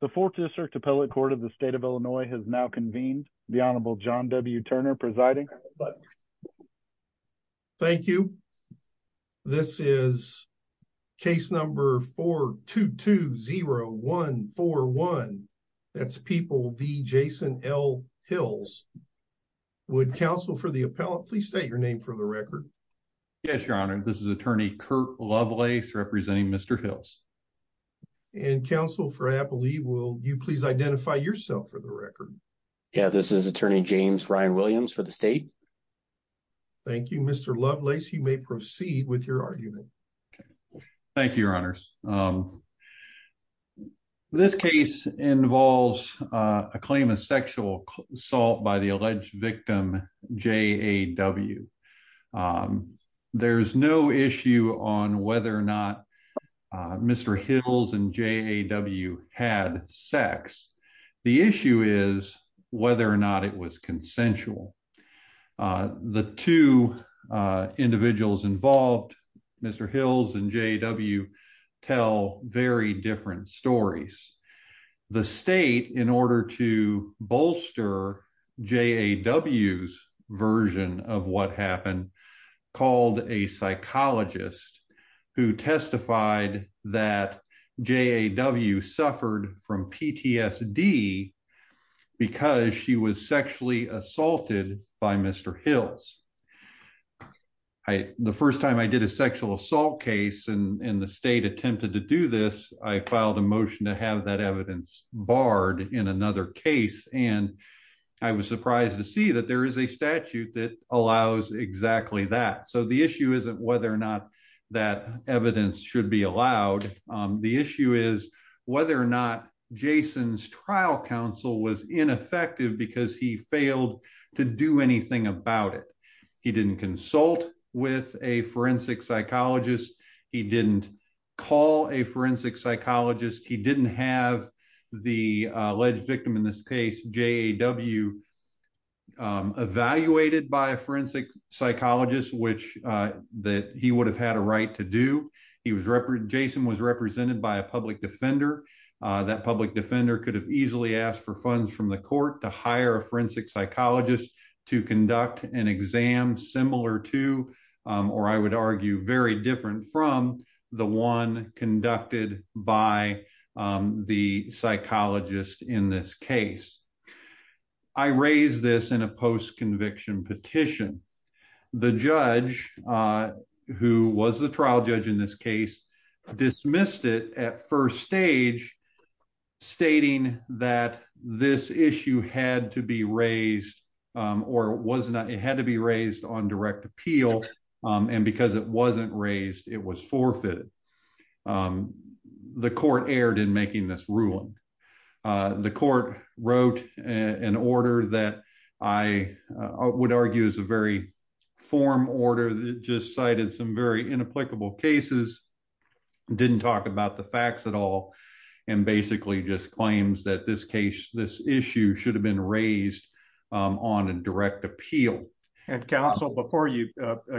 The fourth district appellate court of the state of Illinois has now convened. The Honorable John W. Turner presiding. Thank you. This is case number 4-2-2-0-1-4-1. That's People v. Jason L. Hills. Would counsel for the appellate please state your name for the record? Yes, your honor. This is attorney Kurt Lovelace representing Mr. Hills. And counsel for appellate, will you please identify yourself for the record? Yeah, this is attorney James Ryan Williams for the state. Thank you, Mr. Lovelace. You may proceed with your argument. Thank you, your honors. This case involves a claim of sexual assault by the alleged victim J.A.W. There's no issue on whether or not Mr. Hills and J.A.W. had sex. The issue is whether or not it was consensual. The two individuals involved, Mr. Hills and J.A.W., tell very different stories. The state, in order to bolster J.A.W.'s version of what happened, called a psychologist who testified that J.A.W. suffered from PTSD because she was sexually assaulted by Mr. Hills. The first time I did a sexual assault case and the state attempted to do this, I filed a motion to have that evidence barred in another case. And I was surprised to see that there is a statute that allows exactly that. So the issue isn't whether or not that evidence should be allowed. The issue is whether or not Jason's trial counsel was ineffective because he failed to do anything about it. He didn't consult with a forensic psychologist. He didn't call a forensic psychologist. He didn't have the alleged victim, in this case, J.A.W., evaluated by a forensic psychologist, which he would have had a right to do. Jason was represented by a public defender. That public defender could have easily asked for funds from the court to hire a forensic psychologist to conduct an exam similar to, or I would argue very different from, the one conducted by the psychologist in this case. I raise this in a post-conviction petition. The judge, who was the trial judge in this case, dismissed it at first stage, stating that this issue had to be raised or it had to be raised on direct appeal. And because it wasn't raised, it was forfeited. The court erred in making this ruling. The court wrote an order that I would argue is a form order that just cited some very inapplicable cases, didn't talk about the facts at all, and basically just claims that this issue should have been raised on a direct appeal. Counsel, before you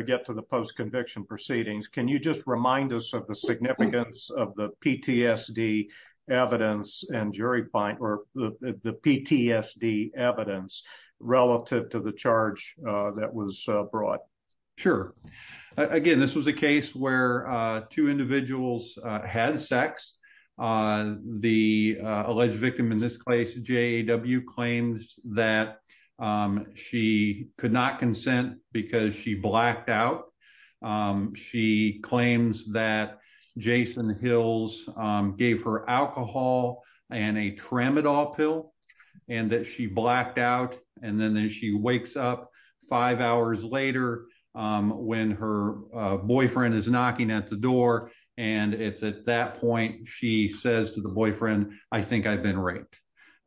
get to the post-conviction proceedings, can you just remind us of the PTSD evidence relative to the charge that was brought? Sure. Again, this was a case where two individuals had sex. The alleged victim in this case, JAW, claims that she could not consent because she blacked out. She claims that Jason Hills gave her alcohol and a Tramadol pill, and that she blacked out. And then she wakes up five hours later when her boyfriend is knocking at the door. And it's at that point she says to the boyfriend, I think I've been raped.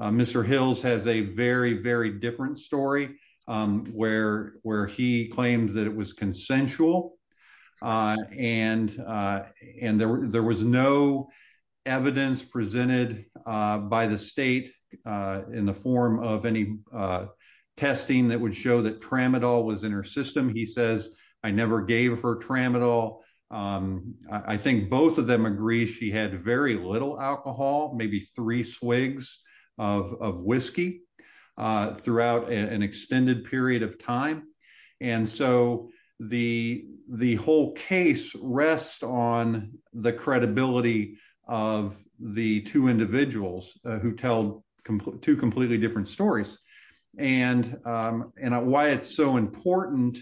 Mr. Hills has a very, very different story where he claims that it was consensual. And there was no evidence presented by the state in the form of any testing that would show that Tramadol was in her system. He says, I never gave her Tramadol. I think both of them agree she had very little alcohol, maybe three swigs of whiskey, throughout an extended period of time. And so the whole case rests on the credibility of the two individuals who tell two completely different stories. And why it's so important,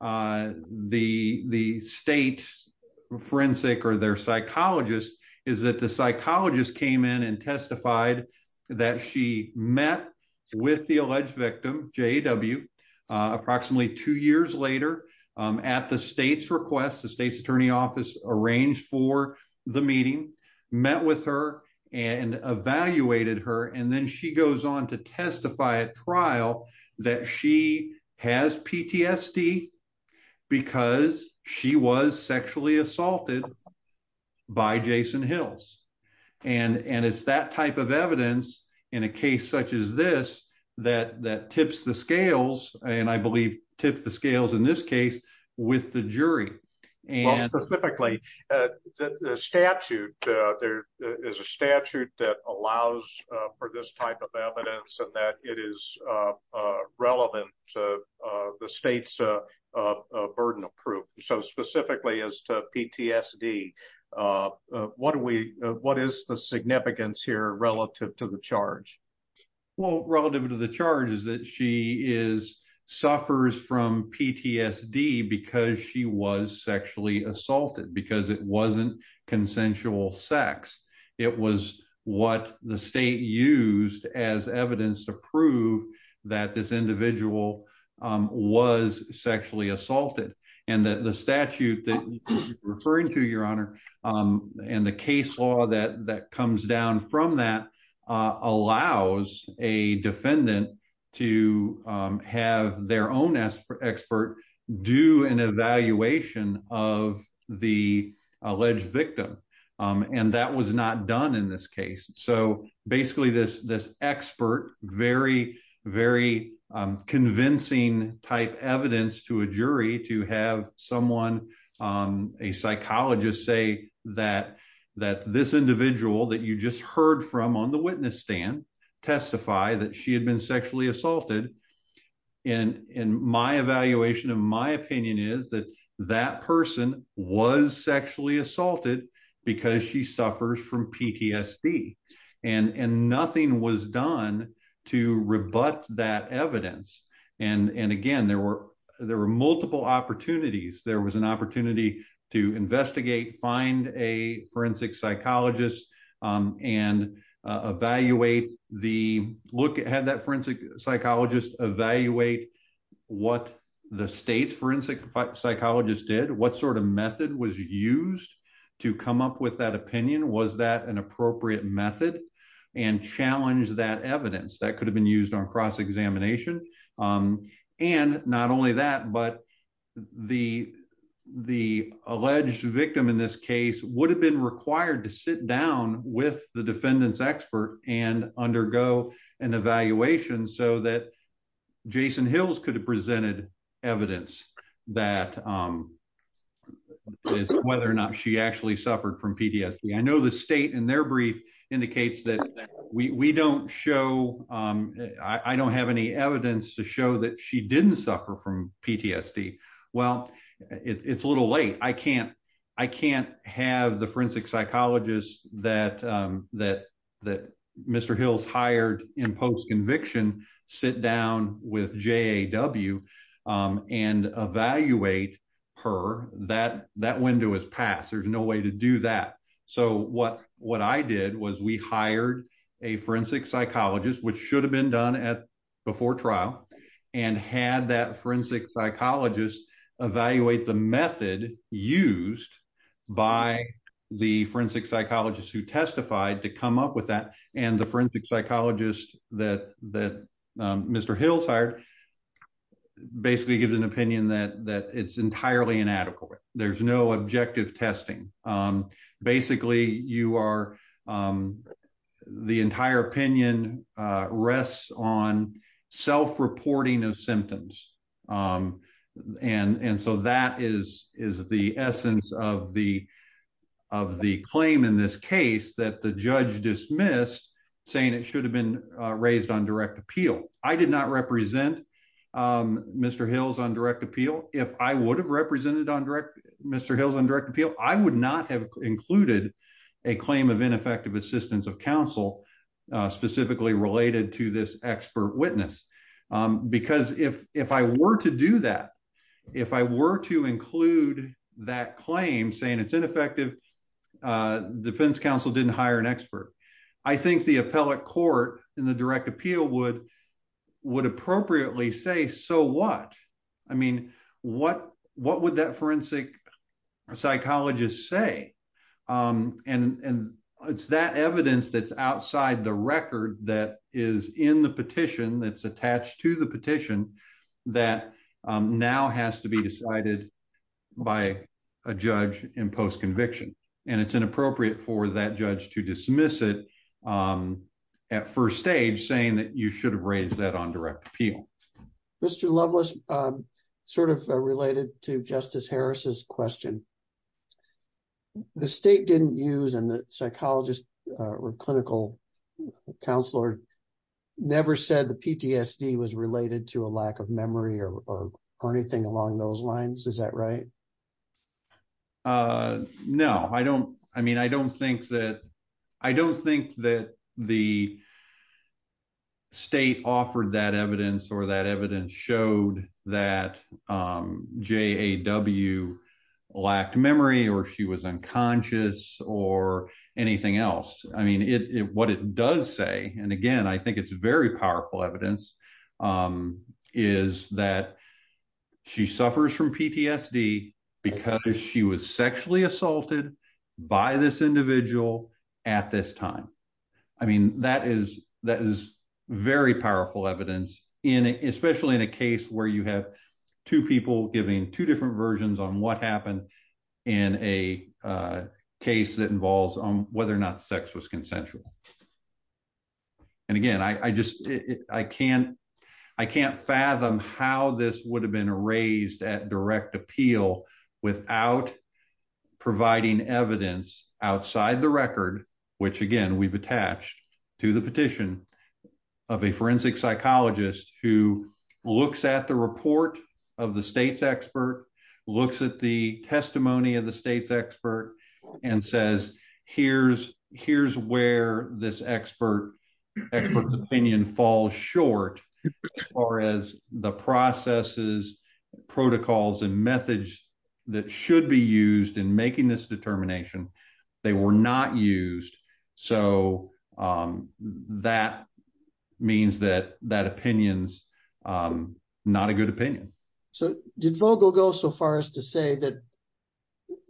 the state forensic or their psychologist, is that the psychologist came in and testified that she met with the alleged victim, JAW, approximately two years later. At the state's request, the state's attorney office arranged for the meeting, met with her, and evaluated her. And then she goes on to testify at trial that she has PTSD because she was sexually assaulted by Jason Hills. And it's that type of evidence in a case such as this that tips the scales, and I believe tips the scales in this case, with the jury. Specifically, the statute, there is a statute that allows for this type of evidence and that it is relevant to the state's burden of proof. So specifically as to PTSD, what do we, what is the significance here relative to the charge? Well, relative to the charge is that she is, suffers from PTSD because she was sexually assaulted, because it wasn't consensual sex. It was what the state used as evidence to prove that this individual was sexually assaulted. And that the statute that you're referring to, Your Honor, and the case law that comes down from that allows a defendant to have their own expert do an evaluation of the alleged victim. And that was not done in this case. So basically this expert, very, very convincing type evidence to a jury to have someone, a psychologist say that this individual that you just heard from on the witness stand testify that she had been sexually assaulted. And my evaluation of my opinion is that that person was sexually assaulted because she suffers from PTSD and nothing was done to rebut that evidence. And again, there were multiple opportunities. There was an opportunity to investigate, find a forensic psychologist and evaluate the look at that forensic psychologist, evaluate what the state's opinion was that an appropriate method and challenge that evidence that could have been used on cross-examination. And not only that, but the alleged victim in this case would have been required to sit down with the defendant's expert and undergo an evaluation so that Jason Hills could have presented evidence that whether or not she actually suffered from PTSD. I know the state in their brief indicates that we don't show, I don't have any evidence to show that she didn't suffer from PTSD. Well, it's a little late. I can't have the forensic psychologist that Mr. Hills hired in post-conviction sit down with JAW and evaluate her. That window is passed. There's no way to do that. So what I did was we hired a forensic psychologist, which should have been done before trial and had that forensic psychologist evaluate the method used by the forensic psychologist that Mr. Hills hired, basically gives an opinion that it's entirely inadequate. There's no objective testing. Basically, the entire opinion rests on self-reporting of symptoms. And so that is the essence of the claim in this case that the judge dismissed saying it should have been raised on direct appeal. I did not represent Mr. Hills on direct appeal. If I would have represented Mr. Hills on direct appeal, I would not have included a claim of ineffective assistance of counsel specifically related to this expert witness. Because if I were to do that, if I were to include that claim saying it's ineffective, defense counsel didn't hire an expert. I think the appellate court in the direct appeal would appropriately say, so what? I mean, what would that forensic psychologist say? And it's that evidence that's outside the record that is in the petition that's attached to the petition that now has to be decided by a judge in post-conviction. And it's inappropriate for that judge to dismiss it at first stage saying that you should have raised that on direct appeal. Mr. Loveless, sort of related to Justice Harris's question, the state didn't use and the psychologist or clinical counselor never said the PTSD was related to a lack of memory or anything along those lines. Is that right? No, I don't. I mean, I don't think that the state offered that evidence or that evidence showed that J.A.W. lacked memory or she was unconscious or anything else. I mean, what it does say, and again, I think it's very powerful evidence, is that she suffers from PTSD because she was this individual at this time. I mean, that is very powerful evidence, especially in a case where you have two people giving two different versions on what happened in a case that involves on whether or not sex was consensual. And again, I can't fathom how this would have been raised at direct appeal without providing evidence outside the record, which again, we've attached to the petition of a forensic psychologist who looks at the report of the state's expert, looks at the testimony of the state's expert and says, here's where this expert opinion falls short as far as the processes, protocols, and methods that should be used in making this determination. They were not used. So that means that that opinion's not a good opinion. So did Vogel go so far as to say that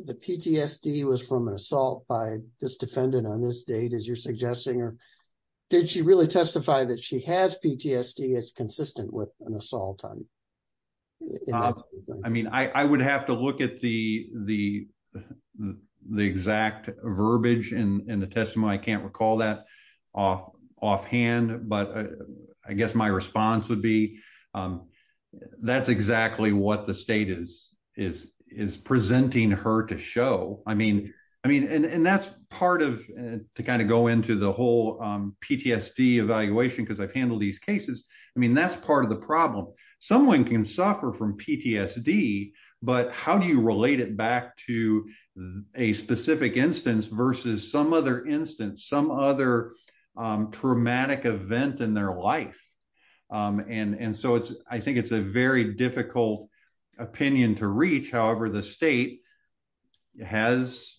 the PTSD was from an assault by this defendant on this date, as you're suggesting, or did she really testify that she has PTSD as consistent with an assault? I mean, I would have to look at the exact verbiage in the testimony. I can't recall that offhand, but I guess my response would be that's exactly what the state is presenting her to show. I mean, and that's part of, to kind of go into the whole PTSD evaluation, because I've handled these cases. I mean, that's part of the problem. Someone can suffer from PTSD, but how do you relate it back to a specific instance versus some other instance, some other traumatic event in their life? And so I think it's a very difficult opinion to reach. However, the state has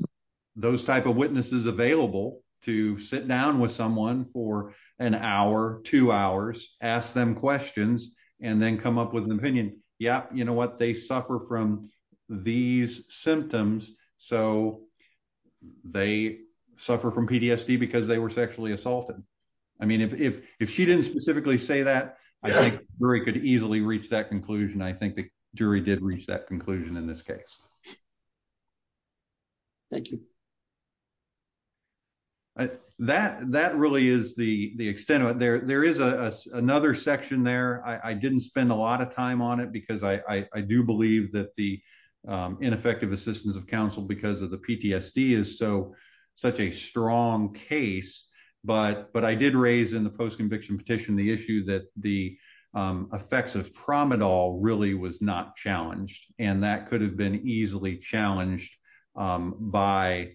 those type of witnesses available to sit down with someone for an hour, two hours, ask them questions, and then come up with an opinion. Yep, you know what? They suffer from these symptoms, so they suffer from PTSD because they were sexually assaulted. I mean, if she didn't specifically say that, I think the jury could easily reach that conclusion. I think the jury did reach that conclusion in this case. Thank you. That really is the extent of it. There is another section there. I didn't spend a lot of time on it because I do believe that the ineffective assistance of counsel because of the PTSD is such a strong case, but I did raise in the post-conviction petition the issue that the effects of promedol really was not challenged, and that could have been easily challenged by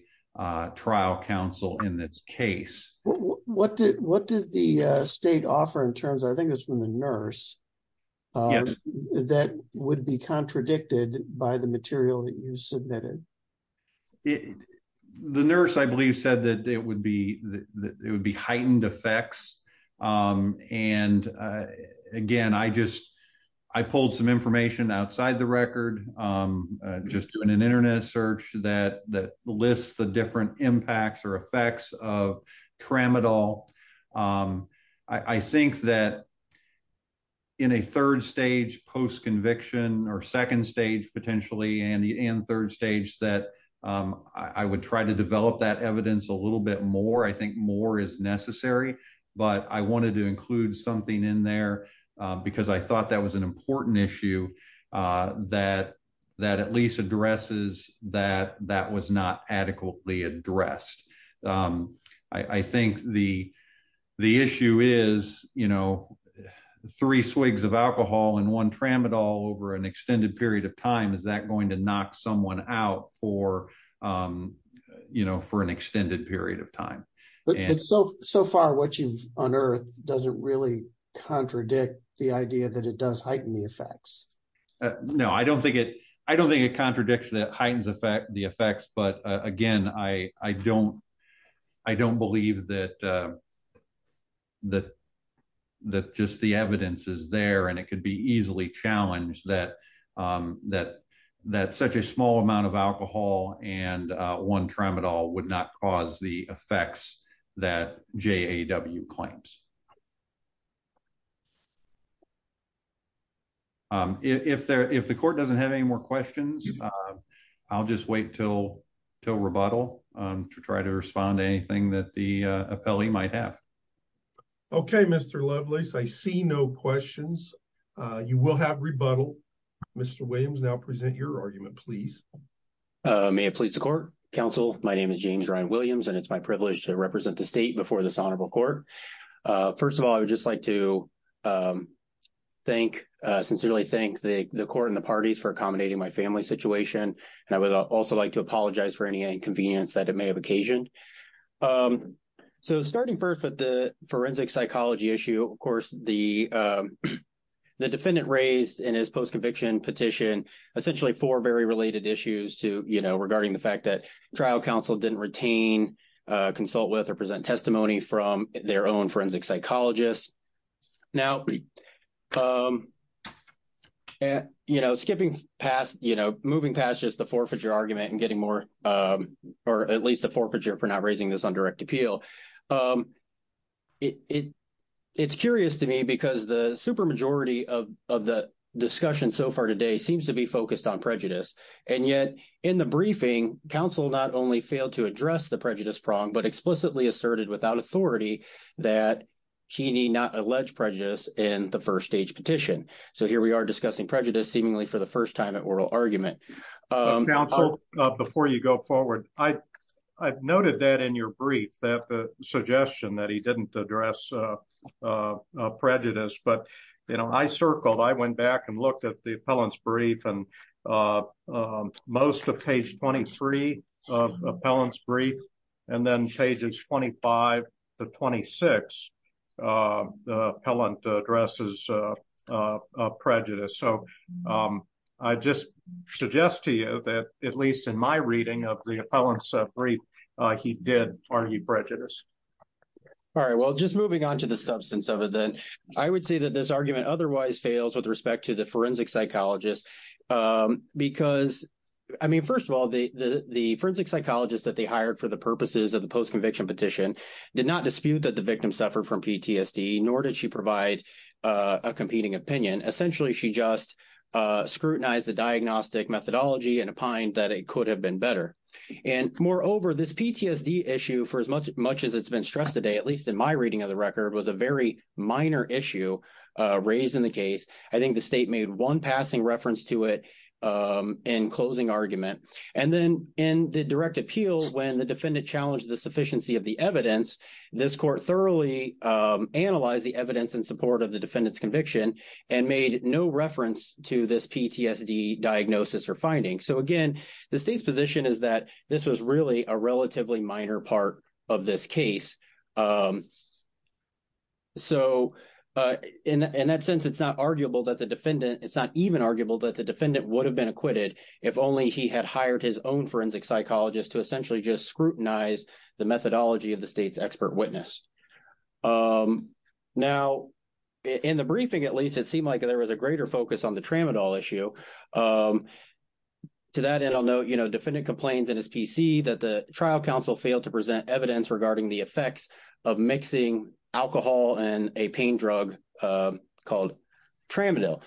trial counsel in this case. What did the state offer in terms, I think it was from the nurse, that would be contradicted by the material that you submitted? The nurse, I believe, said that it would be heightened effects. Again, I pulled some information outside the record just doing an internet search that lists the different impacts or effects of promedol. I think that in a third stage post-conviction or second stage potentially and third stage that I would try to develop that evidence a little bit more. I think more is necessary, but I wanted to include something in there because I thought that was an important issue that at least addresses that that was not adequately addressed. I think the issue is the three swigs of alcohol and one tramadol over an extended period of time, is that going to knock someone out for an extended period of time? So far what you've unearthed doesn't really contradict the idea that it does heighten the effects. No, I don't think it contradicts that the effects, but again, I don't believe that just the evidence is there and it could be easily challenged that such a small amount of alcohol and one tramadol would not cause the effects that J.A.W. claims. If the court doesn't have any more questions, I'll just wait until rebuttal to try to respond to anything that the appellee might have. Okay, Mr. Lovelace, I see no questions. You will have rebuttal. Mr. Williams, now present your argument, please. May it please the court. Counsel, my name is James Ryan Williams, and it's my privilege to represent the state before this honorable court. First of all, I would just like to sincerely thank the court and the parties for accommodating my family situation, and I would also like to apologize for any inconvenience that it may have occasioned. So starting first with the forensic psychology issue, of course, the defendant raised in his post-conviction petition essentially four very related issues regarding the counsel didn't retain, consult with, or present testimony from their own forensic psychologists. Now, you know, skipping past, you know, moving past just the forfeiture argument and getting more or at least the forfeiture for not raising this on direct appeal, it's curious to me because the supermajority of the discussion so far today seems to be focused on prejudice. And yet in the the first stage petition. So here we are discussing prejudice seemingly for the first time at oral argument. Counsel, before you go forward, I've noted that in your brief, that the suggestion that he didn't address prejudice. But, you know, I circled, I went back and looked at the appellant's brief, and most of page 23 of the appellant's brief, and then pages 25 to 26, the appellant addresses prejudice. So I just suggest to you that at least in my reading of the appellant's brief, he did argue prejudice. All right, well, just moving on to the substance of it, then I would say that this argument otherwise fails with respect to the forensic psychologist. Because, I mean, first of all, the forensic psychologist that they hired for the purposes of the post conviction petition did not dispute that the victim suffered from PTSD, nor did she provide a competing opinion. Essentially, she just scrutinized the diagnostic methodology and opined that it could have been better. And moreover, this PTSD issue for as much as it's stressed today, at least in my reading of the record, was a very minor issue raised in the case. I think the state made one passing reference to it in closing argument. And then in the direct appeal, when the defendant challenged the sufficiency of the evidence, this court thoroughly analyzed the evidence in support of the defendant's conviction and made no reference to this PTSD diagnosis or finding. So again, the state's position is that this was really a relatively minor part of this case. So in that sense, it's not arguable that the defendant, it's not even arguable that the defendant would have been acquitted if only he had hired his own forensic psychologist to essentially just scrutinize the methodology of the state's expert witness. Now, in the briefing, at least, it seemed like there was a greater focus on the Tramadol issue. So to that end, I'll note, you know, defendant complains in his PC that the trial counsel failed to present evidence regarding the effects of mixing alcohol and a pain drug called Tramadol.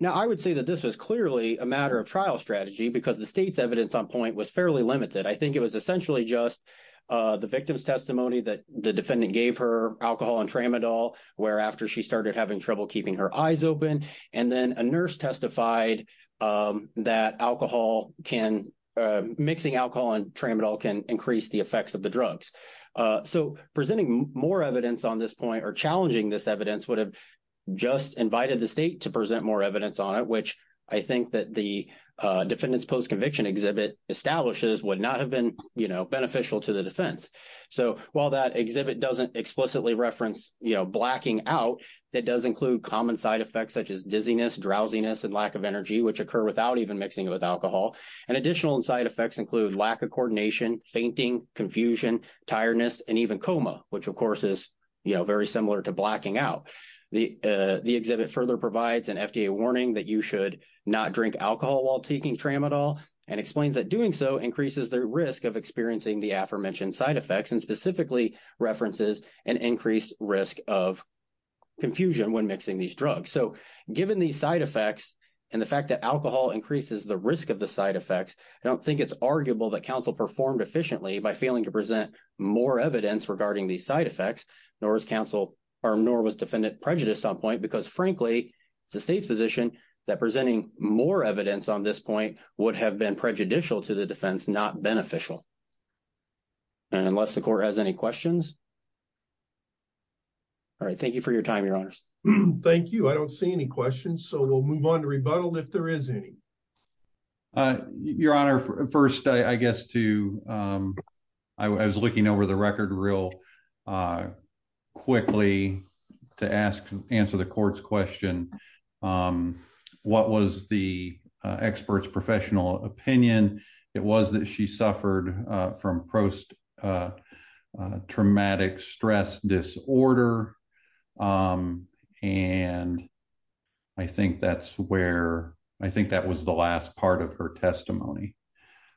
Now, I would say that this was clearly a matter of trial strategy because the state's evidence on point was fairly limited. I think it was essentially just the victim's testimony that the defendant gave her alcohol and Tramadol, where after she started having trouble keeping her eyes open, and then a nurse testified that alcohol can, mixing alcohol and Tramadol can increase the effects of the drugs. So presenting more evidence on this point or challenging this evidence would have just invited the state to present more evidence on it, which I think that the defendant's post-conviction exhibit establishes would not have been, you know, beneficial to the defense. So while that exhibit doesn't explicitly reference, you know, blacking out, that does include common side effects such as dizziness, drowsiness, and lack of energy, which occur without even mixing with alcohol. And additional side effects include lack of coordination, fainting, confusion, tiredness, and even coma, which of course is, you know, very similar to blacking out. The exhibit further provides an FDA warning that you should not drink alcohol while taking Tramadol and explains that doing so increases the risk of experiencing the aforementioned side effects of mixing these drugs. So given these side effects and the fact that alcohol increases the risk of the side effects, I don't think it's arguable that counsel performed efficiently by failing to present more evidence regarding these side effects, nor was counsel or nor was defendant prejudiced on point because frankly, it's the state's position that presenting more evidence on this point would have been prejudicial to the defense, not beneficial. And unless the court has questions, all right, thank you for your time, your honors. Thank you. I don't see any questions, so we'll move on to rebuttal if there is any. Your honor, first, I guess to, I was looking over the record real quickly to ask, answer the court's question. What was the expert's professional opinion? It was that she suffered from post-traumatic stress disorder. And I think that's where, I think that was the last part of her testimony.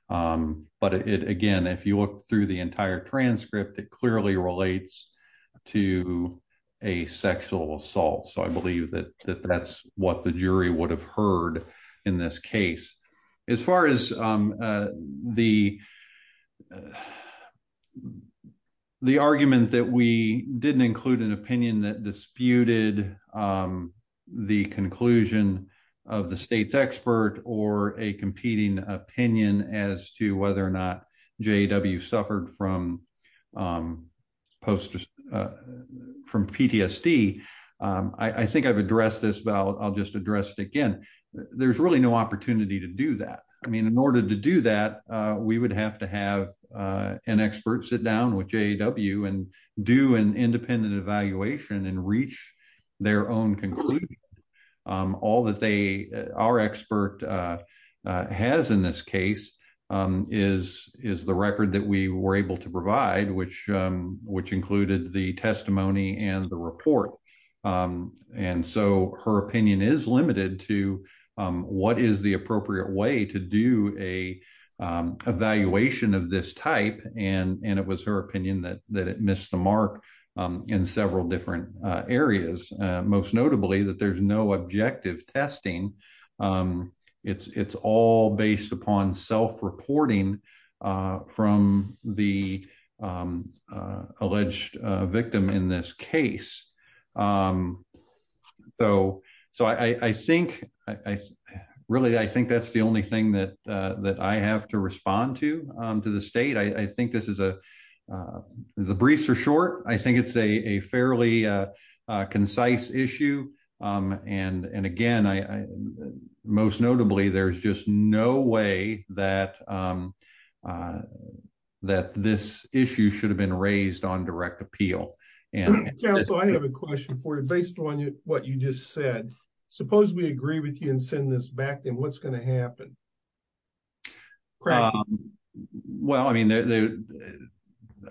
But it, again, if you look through the entire transcript, it clearly relates to a sexual assault. So I believe that that's what the jury would have heard in this case. As far as the argument that we didn't include an opinion that disputed the conclusion of the state's expert or a competing opinion as to whether or not really no opportunity to do that. I mean, in order to do that, we would have to have an expert sit down with JAW and do an independent evaluation and reach their own conclusion. All that they, our expert has in this case is the record that we were able to provide, which included the testimony and the report. And so her opinion is limited to what is the appropriate way to do an evaluation of this type. And it was her opinion that it missed the mark in several different areas. Most notably that there's no objective testing. It's all based upon self-reporting from the victim in this case. So I think, really, I think that's the only thing that I have to respond to to the state. I think this is a, the briefs are short. I think it's a fairly concise issue. And again, most notably, there's just no way that this issue should have been raised on direct appeal. And so I have a question for you based on what you just said, suppose we agree with you and send this back, then what's going to happen? Well, I mean,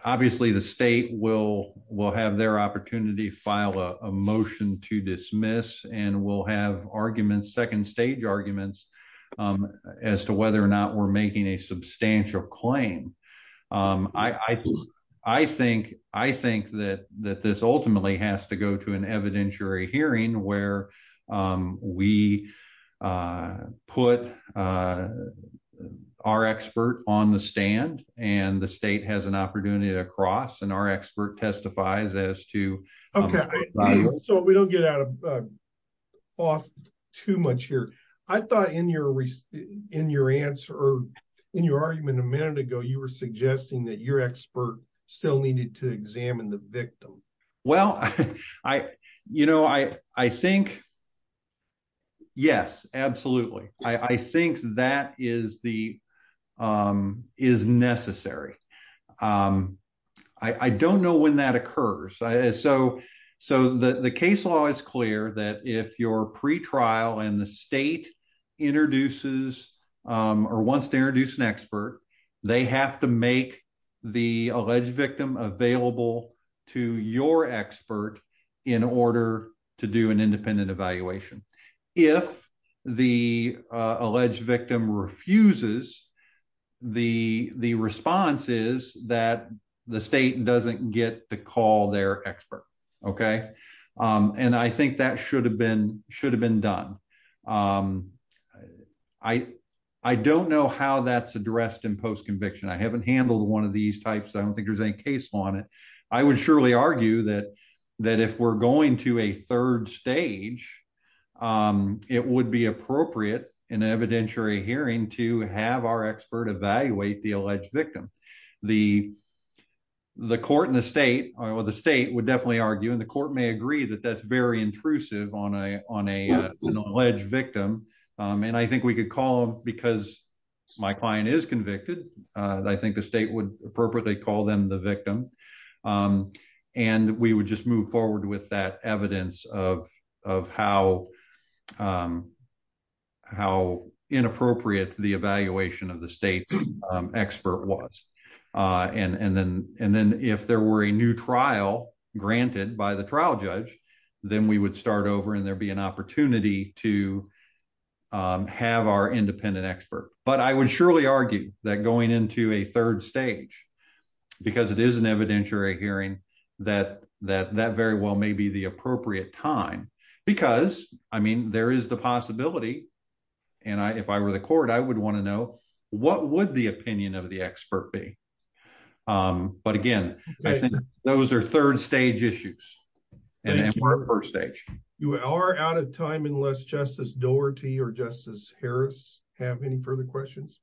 obviously the state will have their opportunity, file a motion to dismiss, and we'll have arguments, second stage arguments as to whether or not we're making a substantial claim. I think that this ultimately has to go to an evidentiary hearing where we put our expert on the stand and the state has an opportunity to cross and our expert testifies as to. Okay. So we don't get out of, off too much here. I thought in your, in your answer or in your argument a minute ago, you were suggesting that your expert still needed to examine the victim. Well, I, you know, I, I think yes, absolutely. I think that is the, is necessary. Um, I, I don't know when that occurs. So, so the, the case law is clear that if your pre-trial and the state introduces, um, or wants to introduce an expert, they have to make the alleged victim available to your expert in order to do an independent evaluation. If the, uh, alleged victim refuses, the, the response is that the state doesn't get to call their expert. Okay. Um, and I think that should have been, should have been done. Um, I, I don't know how that's addressed in post-conviction. I haven't handled one of these types. I don't think there's any case law on it. I would surely argue that, that if we're going to a third stage, um, it would be appropriate in an evidentiary hearing to have our expert evaluate the alleged victim. The, the court and the state, or the state would definitely argue, and the court may agree that that's very intrusive on a, on a, an alleged victim. Um, and I think we could call them because my client is convicted. Uh, I think the state would appropriately call them the victim. Um, and we would just move forward with that evidence of, of how, um, how inappropriate the evaluation of the state's expert was. Uh, and, and then, and then if there were a new trial granted by the trial judge, then we would start over and there'd be an opportunity to, um, have our independent expert. But I would surely argue that going into a third stage, because it is an evidentiary hearing that, that, that very well may be the appropriate time. Because, I mean, there is the possibility, and I, if I were the court, I would want to know what would the opinion of the expert be. Um, but again, those are third stage issues, and then we're at first stage. You are out of time unless Justice Dougherty or Justice Harris have any further questions.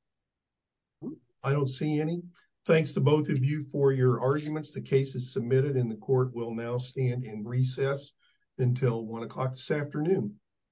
I don't see any. Thanks to both of you for your arguments. The case is submitted in the court. We'll now stand in recess until one o'clock this afternoon.